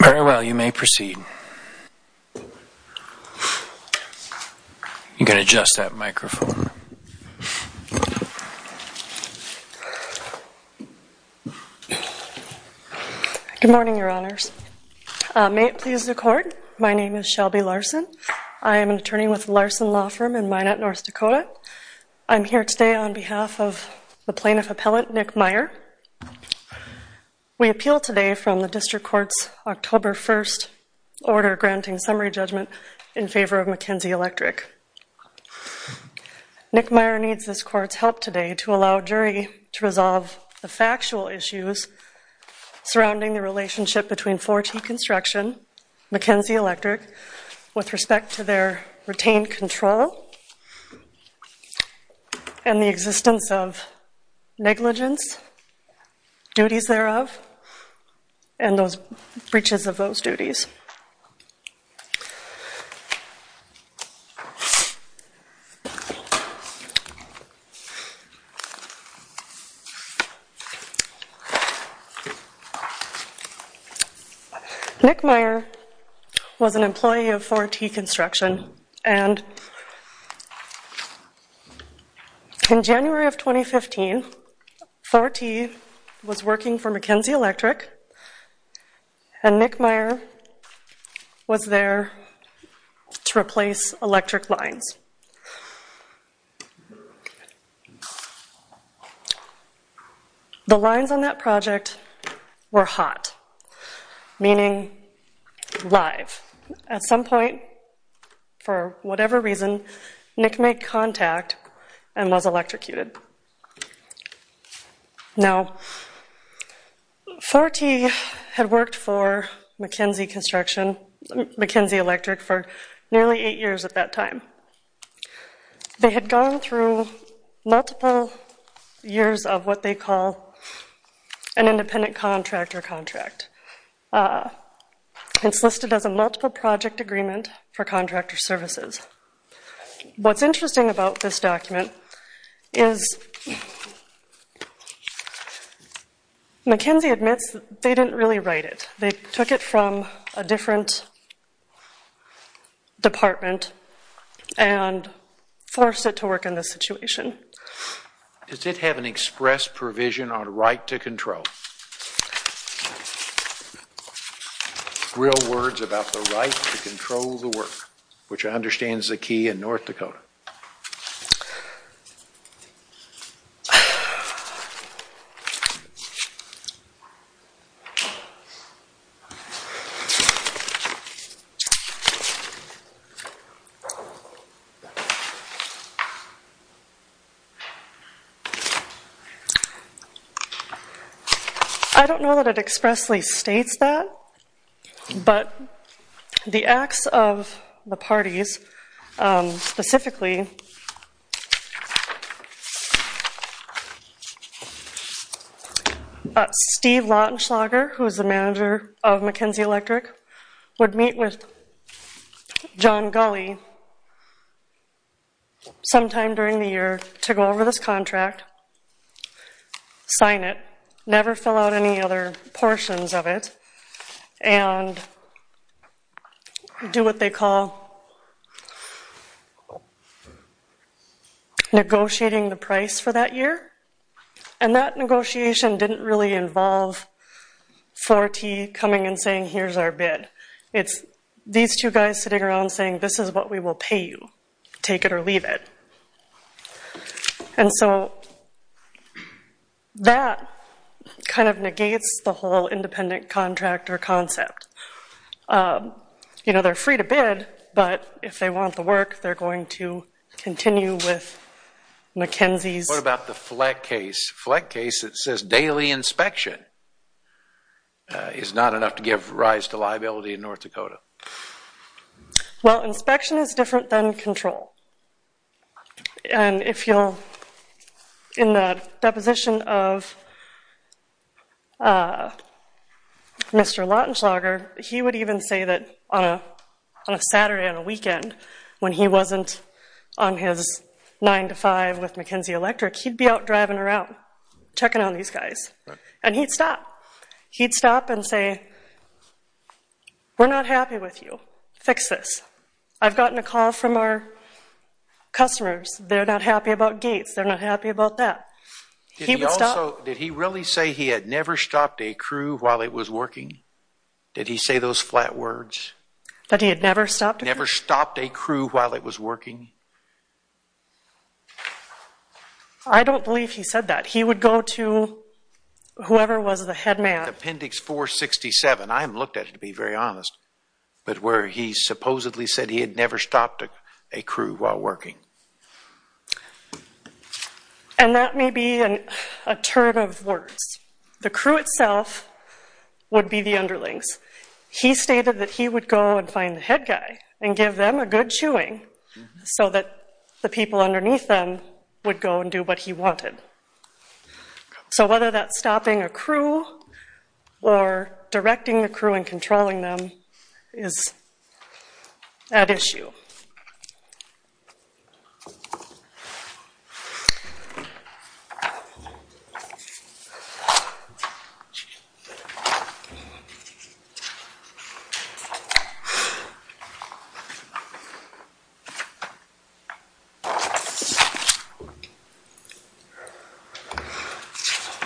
Very well, you may proceed. You can adjust that microphone. Good morning, Your Honors. May it please the Court, my name is Shelby Larson. I am an attorney with Larson Law Firm in Minot, North Dakota. I'm here today on behalf of the Plaintiff Appellant, Nick Meyer. We appeal today from the District Court's October 1st order granting summary judgment in favor of McKenzie Electric. Nick Meyer needs this Court's help today to allow a jury to resolve the factual issues surrounding the relationship between 4T Construction, McKenzie Electric, with respect to their retained control and the existence of negligence, duties thereof, and those breaches of those duties. Nick Meyer was an employee of 4T Construction and in January of 2015, 4T was working for McKenzie Electric and Nick Meyer was there to replace electric lines. The lines on that project were hot, meaning live. At some point, for whatever reason, Nick made contact and was electrocuted. Now, 4T had worked for McKenzie Electric for nearly eight years at that time. They had gone through multiple years of what they call an independent contractor contract. It's listed as a multiple project agreement for contractor services. What's interesting about this document is McKenzie admits they didn't really write it. They took it from a different department and forced it to work in this situation. Does it have an express provision on right to control? Real words about the right to control the work, which I understand is a key in North Dakota. I don't know that it expressly states that, but the acts of the parties, specifically Steve Lautenschlager, who is the manager of McKenzie Electric, would meet with John Gulley sometime during the year to go over this contract, sign it, never fill out any other portions of it, and do what they call negotiating the price for that year. That negotiation didn't really involve 4T coming and saying, here's our bid. It's these two guys sitting around saying, this is what we will pay you, take it or leave it. And so that kind of negates the whole independent contractor concept. They're free to bid, but if they want the work, they're going to continue with McKenzie's... What about the FLEC case? FLEC case, it says daily inspection is not enough to give rise to liability in North Dakota. Well, inspection is different than control. And if you'll, in the deposition of Mr. Lautenschlager, he would even say that on a Saturday on a weekend, when he wasn't on his 9 to 5 with McKenzie Electric, he'd be out driving around, checking on these guys. And he'd stop. He'd stop and say, we're not happy with you, fix this. I've gotten a call from our customers, they're not happy about gates, they're not happy about that. Did he also, did he really say he had never stopped a crew while it was working? Did he say those flat words? That he had never stopped a crew? Never stopped a crew while it was working? I don't believe he said that. He would go to whoever was the head man. Appendix 467, I haven't looked at it to be very honest, but where he supposedly said he had never stopped a crew while working. And that may be a turn of words. The crew itself would be the underlings. He stated that he would go and find the head guy and give them a good chewing. So that the people underneath them would go and do what he wanted. So whether that's stopping a crew or directing a crew and controlling them is at issue.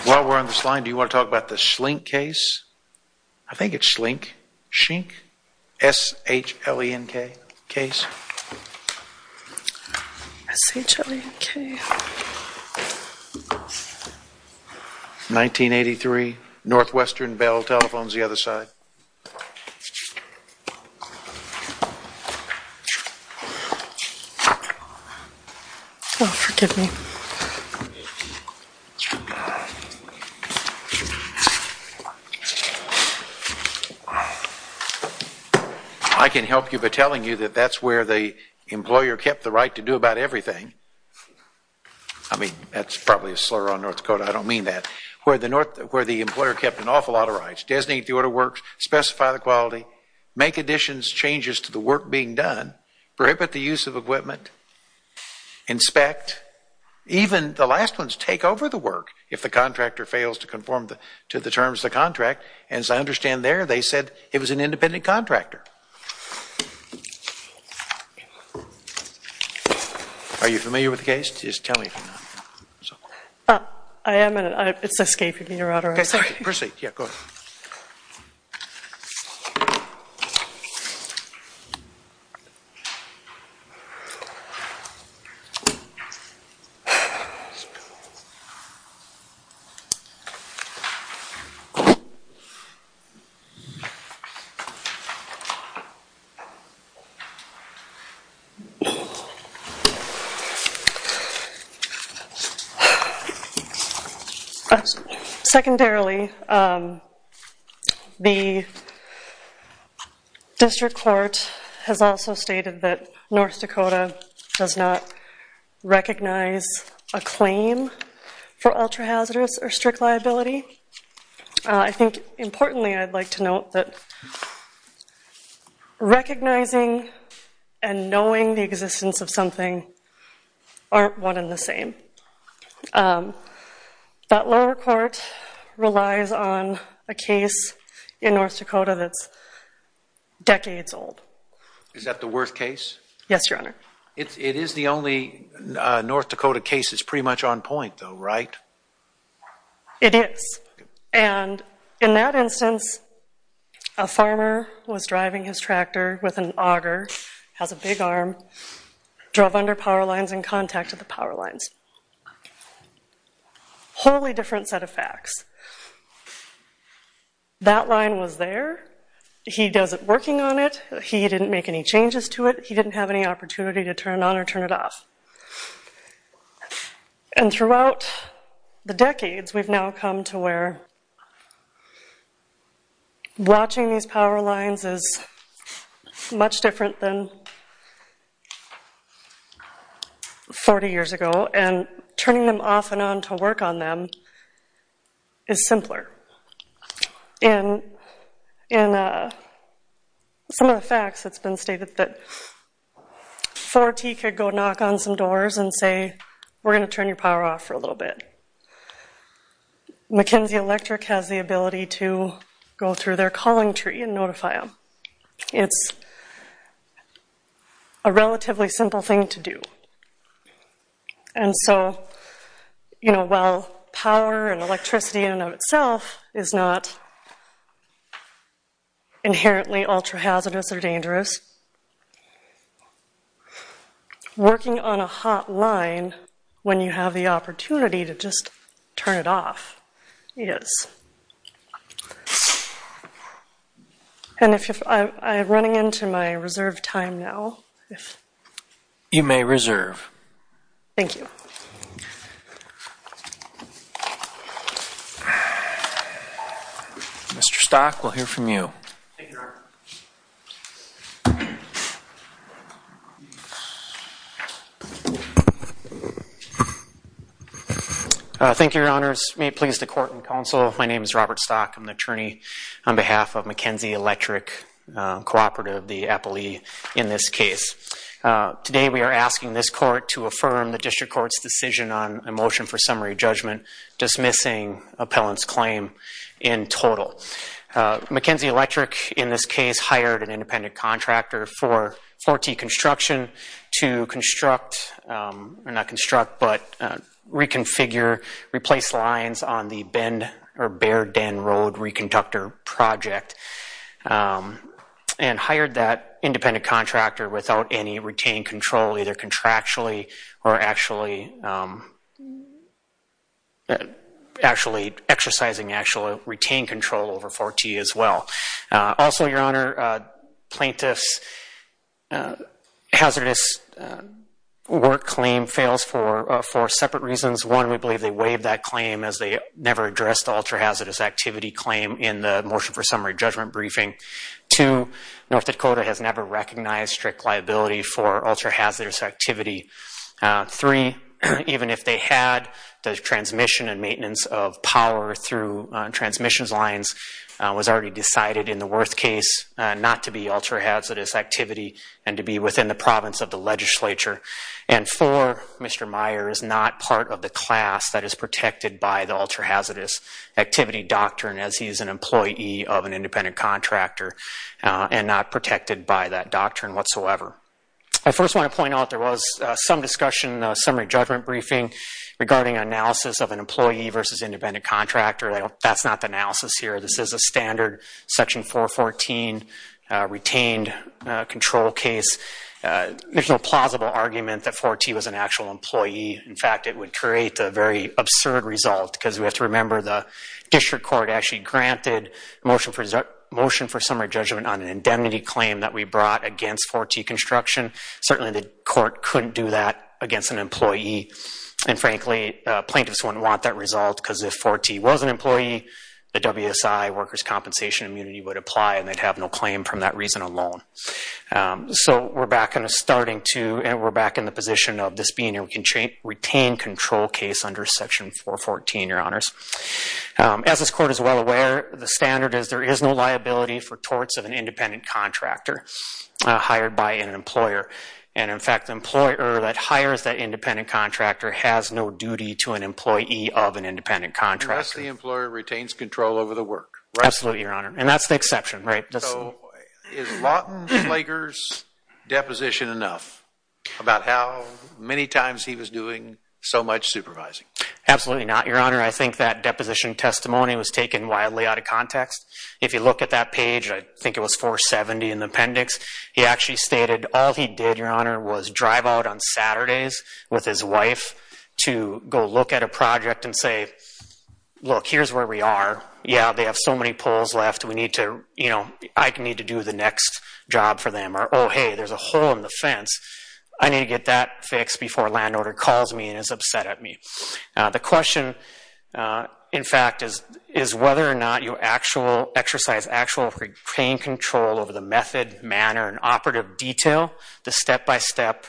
While we're on the slide, do you want to talk about the Schlenk case? I think it's Schlenk, Schenk, S-H-L-E-N-K case. S-H-L-E-N-K. 1983, Northwestern Bell Telephones, the other side. Oh, forgive me. I can help you by telling you that that's where the employer kept the right to do about everything. I mean, that's probably a slur on North Dakota, I don't mean that. Where the employer kept an awful lot of rights. Designate the order of works, specify the quality, make additions, changes to the work being done, prohibit the use of equipment, inspect, even the last ones take over the work if the contractor fails to conform to the terms of the contract. As I understand there, they said it was an independent contractor. Are you familiar with the case? Just tell me if you're not. I am, it's escaping me, Your Honor. Okay, proceed, go ahead. Secondarily, the district court has also stated that North Dakota does not recognize a claim for ultra-hazardous or strict liability. I think importantly I'd like to note that recognizing and knowing the existence of something aren't one and the same. That lower court relies on a case in North Dakota that's decades old. Is that the Worth case? Yes, Your Honor. It is the only North Dakota case that's pretty much on point though, right? It is, and in that instance, a farmer was driving his tractor with an auger, has a big arm, drove under power lines and contacted the power lines. Wholly different set of facts. That line was there. He does it working on it. He didn't make any changes to it. He didn't have any opportunity to turn it on or turn it off. And throughout the decades, we've now come to where watching these power lines is much different than 40 years ago, and turning them off and on to work on them is simpler. In some of the facts, it's been stated that 4T could go knock on some doors and say, we're going to turn your power off for a little bit. Mackenzie Electric has the ability to go through their calling tree and notify them. It's a relatively simple thing to do. And so, you know, while power and electricity in and of itself is not inherently ultra-hazardous or dangerous, working on a hot line when you have the opportunity to just turn it off is. And I'm running into my reserve time now. You may reserve. Thank you. Mr. Stock, we'll hear from you. Thank you, Your Honor. Thank you, Your Honors. May it please the court and counsel, my name is Robert Stock. I'm the attorney on behalf of Mackenzie Electric Cooperative, the appellee in this case. Today, we are asking this court to affirm the district court's decision on a motion for summary judgment, dismissing appellant's claim in total. Mackenzie Electric, in this case, hired an independent contractor for 4T Construction to construct, or not construct, but reconfigure, replace lines on the Baird Den Road reconductor project and hired that independent contractor without any retained control, either contractually or actually exercising actual retained control over 4T as well. Also, Your Honor, plaintiff's hazardous work claim fails for four separate reasons. One, we believe they waived that claim as they never addressed the ultra-hazardous activity claim in the motion for summary judgment briefing. Two, North Dakota has never recognized strict liability for ultra-hazardous activity. Three, even if they had, the transmission and maintenance of power through transmissions lines was already decided in the Worth case not to be ultra-hazardous activity and to be within the province of the legislature. And four, Mr. Meyer is not part of the class that is protected by the ultra-hazardous activity doctrine as he is an employee of an independent contractor and not protected by that doctrine whatsoever. I first want to point out there was some discussion in the summary judgment briefing regarding analysis of an employee versus independent contractor. That's not the analysis here. This is a standard Section 414 retained control case. There's no plausible argument that 4T was an actual employee. In fact, it would create a very absurd result because we have to remember the district court actually granted motion for summary judgment on an indemnity claim that we brought against 4T construction. Certainly the court couldn't do that against an employee. And frankly, plaintiffs wouldn't want that result because if 4T was an employee, the WSI, workers' compensation immunity, would apply, and they'd have no claim from that reason alone. So we're back in the position of this being a retained control case under Section 414, Your Honors. As this court is well aware, the standard is there is no liability for torts of an independent contractor hired by an employer. And in fact, the employer that hires that independent contractor has no duty to an employee of an independent contractor. Unless the employer retains control over the work, right? Absolutely, Your Honor, and that's the exception, right? So is Lawton Slager's deposition enough about how many times he was doing so much supervising? Absolutely not, Your Honor. I think that deposition testimony was taken wildly out of context. If you look at that page, I think it was 470 in the appendix. He actually stated all he did, Your Honor, was drive out on Saturdays with his wife to go look at a project and say, look, here's where we are. Yeah, they have so many poles left. We need to, you know, I need to do the next job for them. Or, oh, hey, there's a hole in the fence. I need to get that fixed before a landowner calls me and is upset at me. The question, in fact, is whether or not you exercise actual, retain control over the method, manner, and operative detail, the step-by-step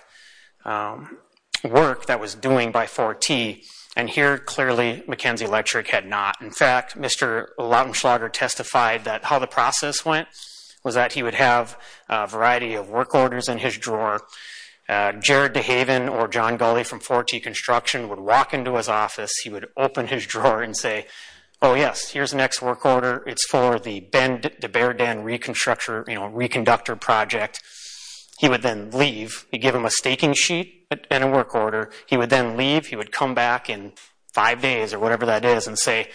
work that was doing by 4T. And here, clearly, McKenzie Electric had not. In fact, Mr. Lawton Slager testified that how the process went was that he would have a variety of work orders in his drawer. Jared DeHaven or John Gulley from 4T Construction would walk into his office. He would open his drawer and say, oh, yes, here's the next work order. It's for the Bear Den Reconstruction, you know, reconductor project. He would then leave. He'd give him a staking sheet and a work order. He would then leave. He would come back in five days or whatever that is and say,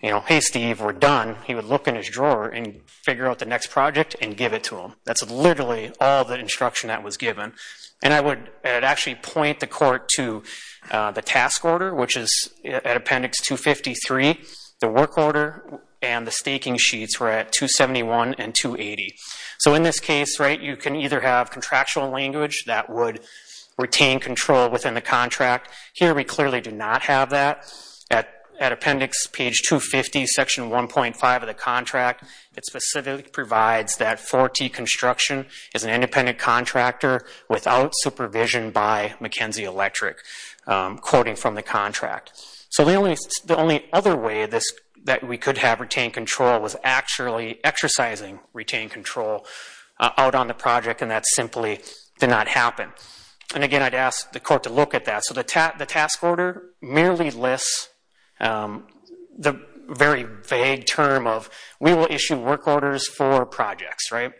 you know, hey, Steve, we're done. He would look in his drawer and figure out the next project and give it to him. That's literally all the instruction that was given. And I would actually point the court to the task order, which is at Appendix 253. The work order and the staking sheets were at 271 and 280. So in this case, right, you can either have contractual language that would retain control within the contract. Here we clearly do not have that. At Appendix Page 250, Section 1.5 of the contract, it specifically provides that 4T Construction is an independent contractor without supervision by McKenzie Electric, quoting from the contract. So the only other way that we could have retained control was actually exercising retained control out on the project, and that simply did not happen. And again, I'd ask the court to look at that. So the task order merely lists the very vague term of we will issue work orders for projects, right?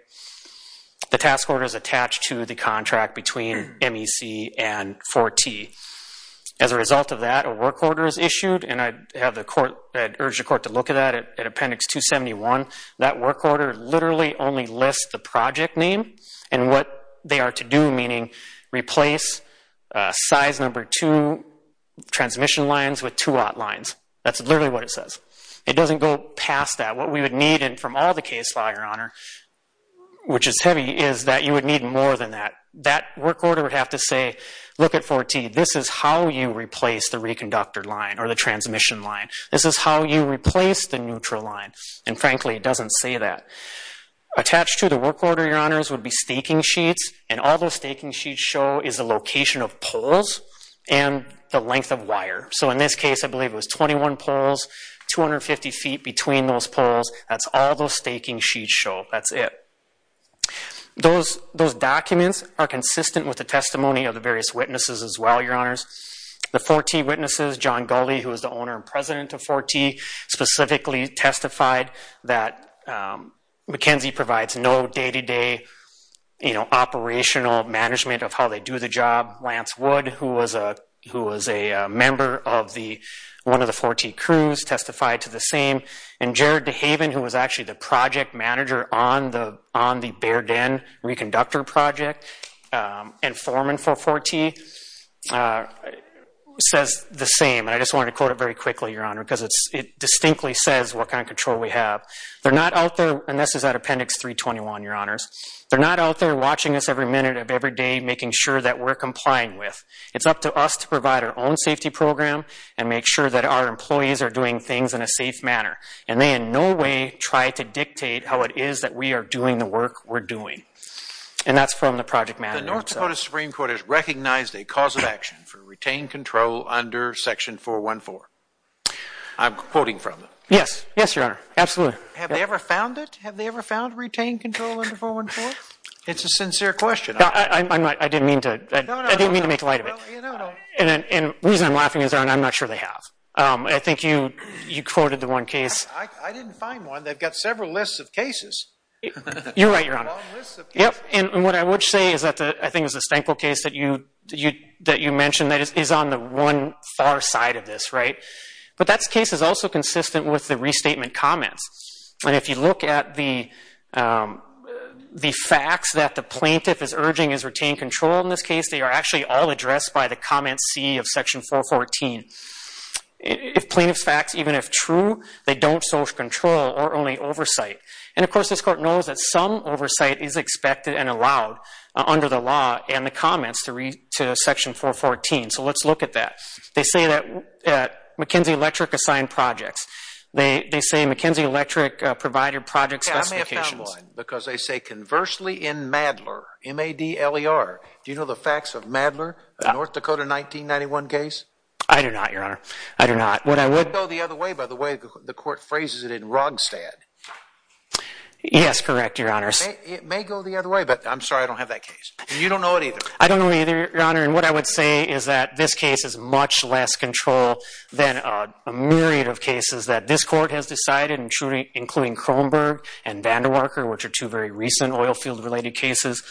The task order is attached to the contract between MEC and 4T. As a result of that, a work order is issued, and I'd urge the court to look at that at Appendix 271. That work order literally only lists the project name and what they are to do, meaning replace size number 2 transmission lines with 2-0 lines. That's literally what it says. It doesn't go past that. What we would need from all the case law, Your Honor, which is heavy, is that you would need more than that. That work order would have to say, look at 4T. This is how you replace the reconductor line or the transmission line. This is how you replace the neutral line. And frankly, it doesn't say that. Attached to the work order, Your Honors, would be staking sheets, and all those staking sheets show is the location of poles and the length of wire. So in this case, I believe it was 21 poles, 250 feet between those poles. That's all those staking sheets show. That's it. Those documents are consistent with the testimony of the various witnesses as well, Your Honors. The 4T witnesses, John Gulley, who was the owner and president of 4T, specifically testified that McKenzie provides no day-to-day operational management of how they do the job. Lance Wood, who was a member of one of the 4T crews, testified to the same. And Jared DeHaven, who was actually the project manager on the Baird Inn reconductor project and foreman for 4T, says the same, and I just wanted to quote it very quickly, Your Honor, because it distinctly says what kind of control we have. They're not out there, and this is at Appendix 321, Your Honors. They're not out there watching us every minute of every day, making sure that we're complying with. It's up to us to provide our own safety program and make sure that our employees are doing things in a safe manner. And they in no way try to dictate how it is that we are doing the work we're doing. And that's from the project manager himself. The North Dakota Supreme Court has recognized a cause of action for retained control under Section 414. I'm quoting from it. Yes. Yes, Your Honor. Absolutely. Have they ever found it? Have they ever found retained control under 414? It's a sincere question. I didn't mean to make light of it. And the reason I'm laughing is, Your Honor, I'm not sure they have. I think you quoted the one case. I didn't find one. They've got several lists of cases. You're right, Your Honor. And what I would say is that I think it was the Stenkel case that you mentioned that is on the one far side of this, right? But that case is also consistent with the restatement comments. And if you look at the facts that the plaintiff is urging is retained control in this case, they are actually all addressed by the comment C of Section 414. If plaintiff's facts, even if true, they don't social control or only oversight. And, of course, this Court knows that some oversight is expected and allowed under the law and the comments to Section 414. So let's look at that. They say that McKenzie Electric assigned projects. They say McKenzie Electric provided project specifications. I may have found one because they say conversely in Madler, M-A-D-L-E-R. Do you know the facts of Madler, a North Dakota 1991 case? I do not, Your Honor. I do not. It may go the other way, by the way. The Court phrases it in Rogstad. Yes, correct, Your Honor. It may go the other way, but I'm sorry I don't have that case. You don't know it either. I don't know it either, Your Honor. And what I would say is that this case is much less control than a myriad of cases that this Court has decided, including Kronberg and Vandewarker, which are two very recent oil field related cases.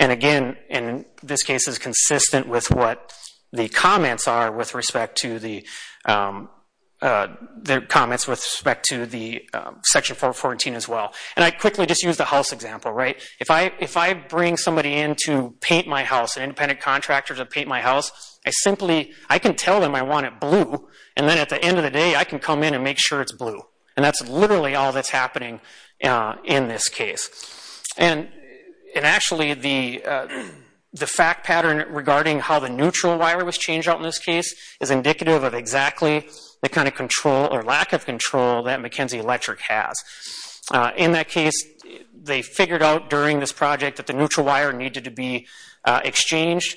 And, again, this case is consistent with what the comments are with respect to the Section 414 as well. And I quickly just use the house example. If I bring somebody in to paint my house, an independent contractor to paint my house, I simply can tell them I want it blue, and then at the end of the day, I can come in and make sure it's blue. And that's literally all that's happening in this case. And, actually, the fact pattern regarding how the neutral wire was changed out in this case is indicative of exactly the kind of lack of control that McKenzie Electric has. In that case, they figured out during this project that the neutral wire needed to be exchanged.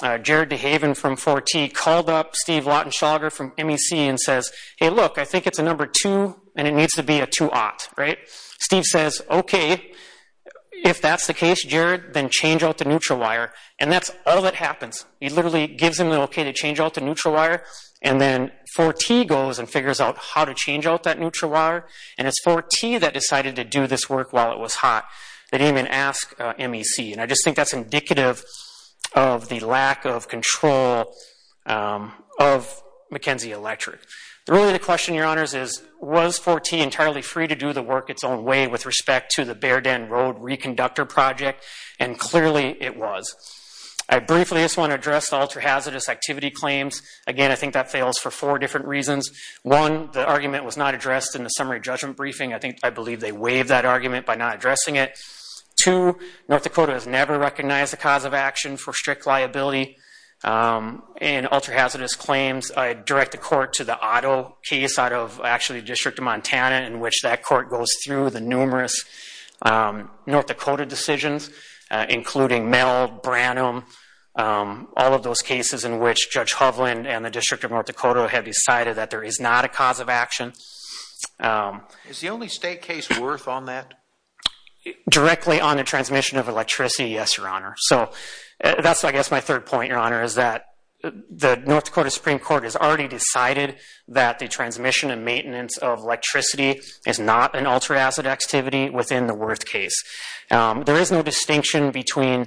Jared DeHaven from 4T called up Steve Lautenschlager from MEC and says, hey, look, I think it's a number 2, and it needs to be a 2-ought, right? Steve says, okay, if that's the case, Jared, then change out the neutral wire. And that's all that happens. He literally gives him the okay to change out the neutral wire, and then 4T goes and figures out how to change out that neutral wire. And it's 4T that decided to do this work while it was hot. They didn't even ask MEC. And I just think that's indicative of the lack of control of McKenzie Electric. Really, the question, Your Honors, is was 4T entirely free to do the work its own way with respect to the Bear Den Road reconductor project? And, clearly, it was. I briefly just want to address the ultra-hazardous activity claims. Again, I think that fails for four different reasons. One, the argument was not addressed in the summary judgment briefing. I believe they waived that argument by not addressing it. Two, North Dakota has never recognized the cause of action for strict liability. In ultra-hazardous claims, I direct the court to the Otto case out of actually the District of Montana, in which that court goes through the numerous North Dakota decisions, including Meld, Branham, all of those cases in which Judge Hovland and the District of North Dakota have decided that there is not a cause of action. Is the only state case worth on that? Directly on the transmission of electricity, yes, Your Honor. So that's, I guess, my third point, Your Honor, is that the North Dakota Supreme Court has already decided that the transmission and maintenance of electricity is not an ultra-hazardous activity within the Worth case. There is no distinction between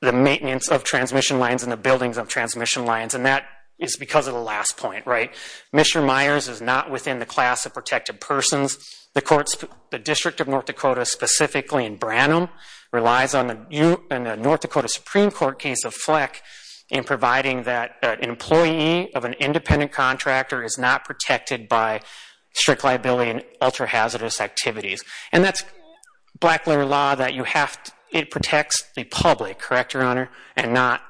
the maintenance of transmission lines and the buildings of transmission lines, and that is because of the last point, right? Mr. Myers is not within the class of protected persons. The District of North Dakota, specifically in Branham, relies on the North Dakota Supreme Court case of Fleck in providing that an employee of an independent contractor is not protected by strict liability and ultra-hazardous activities. And that's black-letter law that protects the public, correct, Your Honor, and not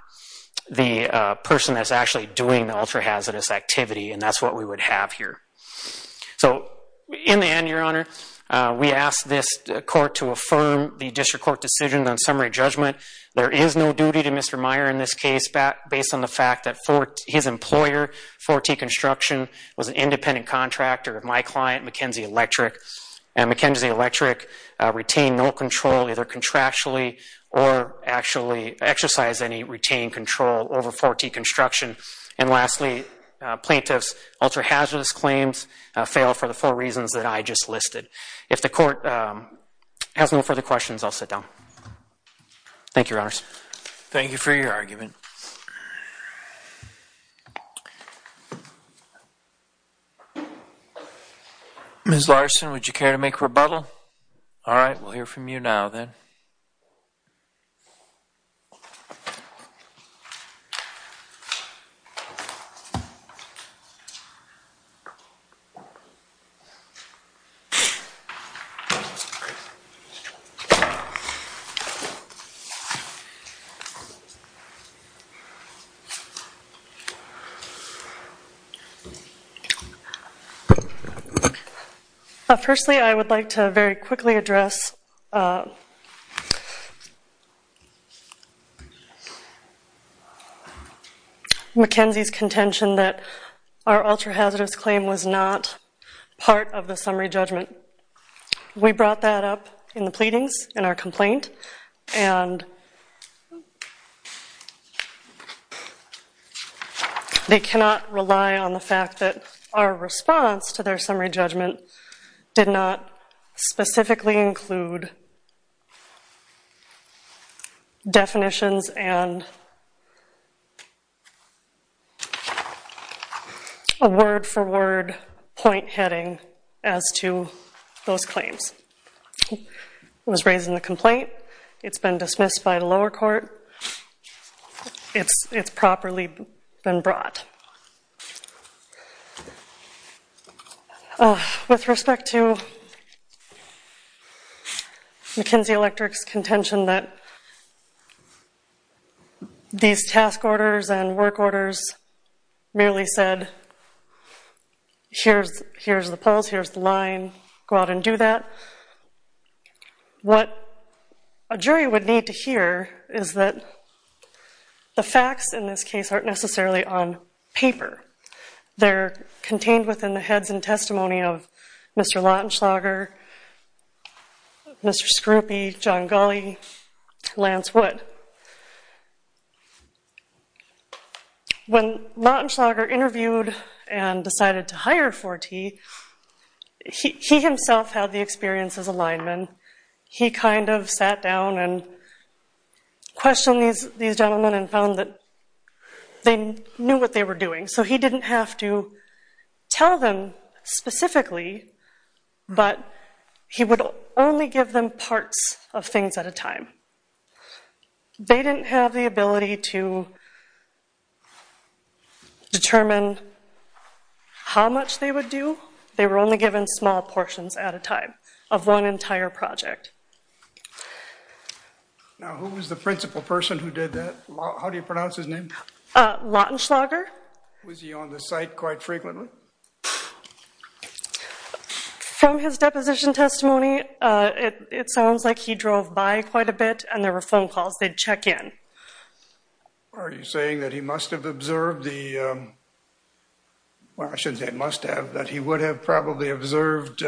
the person that's actually doing the ultra-hazardous activity, and that's what we would have here. So in the end, Your Honor, we ask this court to affirm the District Court decision on summary judgment. There is no duty to Mr. Myers in this case based on the fact that his employer, 4T Construction, was an independent contractor of my client, McKenzie Electric, and McKenzie Electric retained no control either contractually or actually exercised any retained control over 4T Construction. And lastly, plaintiff's ultra-hazardous claims fail for the four reasons that I just listed. If the court has no further questions, I'll sit down. Thank you, Your Honors. Thank you for your argument. Ms. Larson, would you care to make a rebuttal? All right, we'll hear from you now then. Thank you. Firstly, I would like to very quickly address McKenzie's contention that our ultra-hazardous claim was not part of the summary judgment. We brought that up in the pleadings in our complaint, and they cannot rely on the fact that our response to their summary judgment did not specifically include definitions and a word-for-word point heading as to those claims. It was raised in the complaint. It's been dismissed by the lower court. It's properly been brought. Second, with respect to McKenzie Electric's contention that these task orders and work orders merely said, here's the polls, here's the line, go out and do that, what a jury would need to hear is that the facts in this case aren't necessarily on paper. They're contained within the heads and testimony of Mr. Lautenschlager, Mr. Scruppi, John Gulley, Lance Wood. When Lautenschlager interviewed and decided to hire Forti, he himself had the experience as a lineman. He kind of sat down and questioned these gentlemen and found that they knew what they were doing. So he didn't have to tell them specifically, but he would only give them parts of things at a time. They didn't have the ability to determine how much they would do. They were only given small portions at a time of one entire project. Now, who was the principal person who did that? How do you pronounce his name? Lautenschlager. Was he on the site quite frequently? From his deposition testimony, it sounds like he drove by quite a bit and there were phone calls. They'd check in. Are you saying that he must have observed the – well, I shouldn't say must have, but that he would have probably observed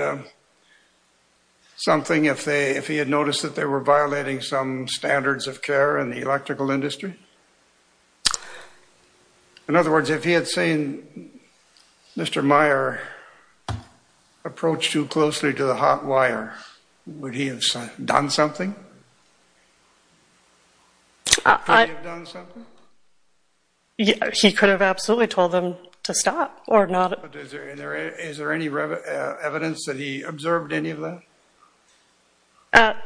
something if he had noticed that they were violating some standards of care in the electrical industry? In other words, if he had seen Mr. Meyer approach too closely to the hot wire, would he have done something? Could he have done something? He could have absolutely told them to stop or not. Is there any evidence that he observed any of that?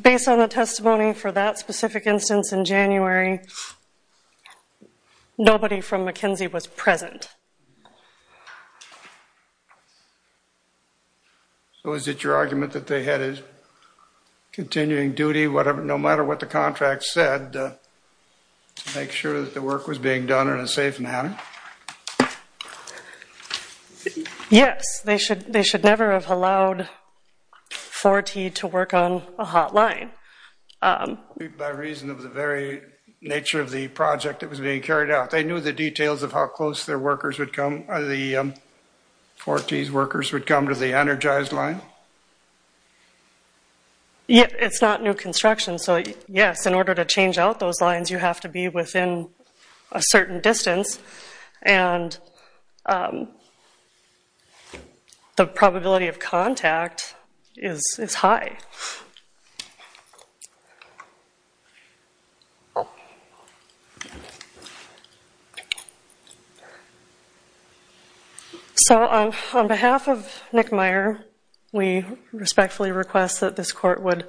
Based on the testimony for that specific instance in January, nobody from McKinsey was present. So is it your argument that they had a continuing duty, no matter what the contract said, to make sure that the work was being done in a safe manner? Yes. They should never have allowed 4T to work on a hot line. By reason of the very nature of the project that was being carried out. They knew the details of how close the 4T's workers would come to the energized line? It's not new construction, so yes, in order to change out those lines, you have to be within a certain distance, and the probability of contact is high. Thank you. So on behalf of Nick Meyer, we respectfully request that this court would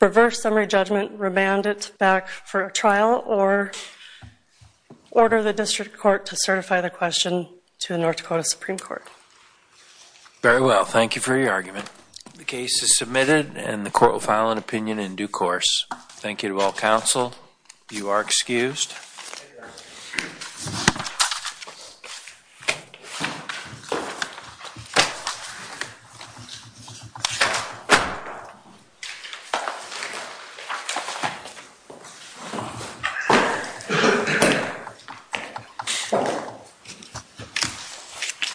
reverse summary judgment, remand it back for a trial, or order the district court to certify the question to the North Dakota Supreme Court. Very well. Thank you for your argument. The case is submitted, and the court will file an opinion in due course. Thank you to all counsel. You are excused.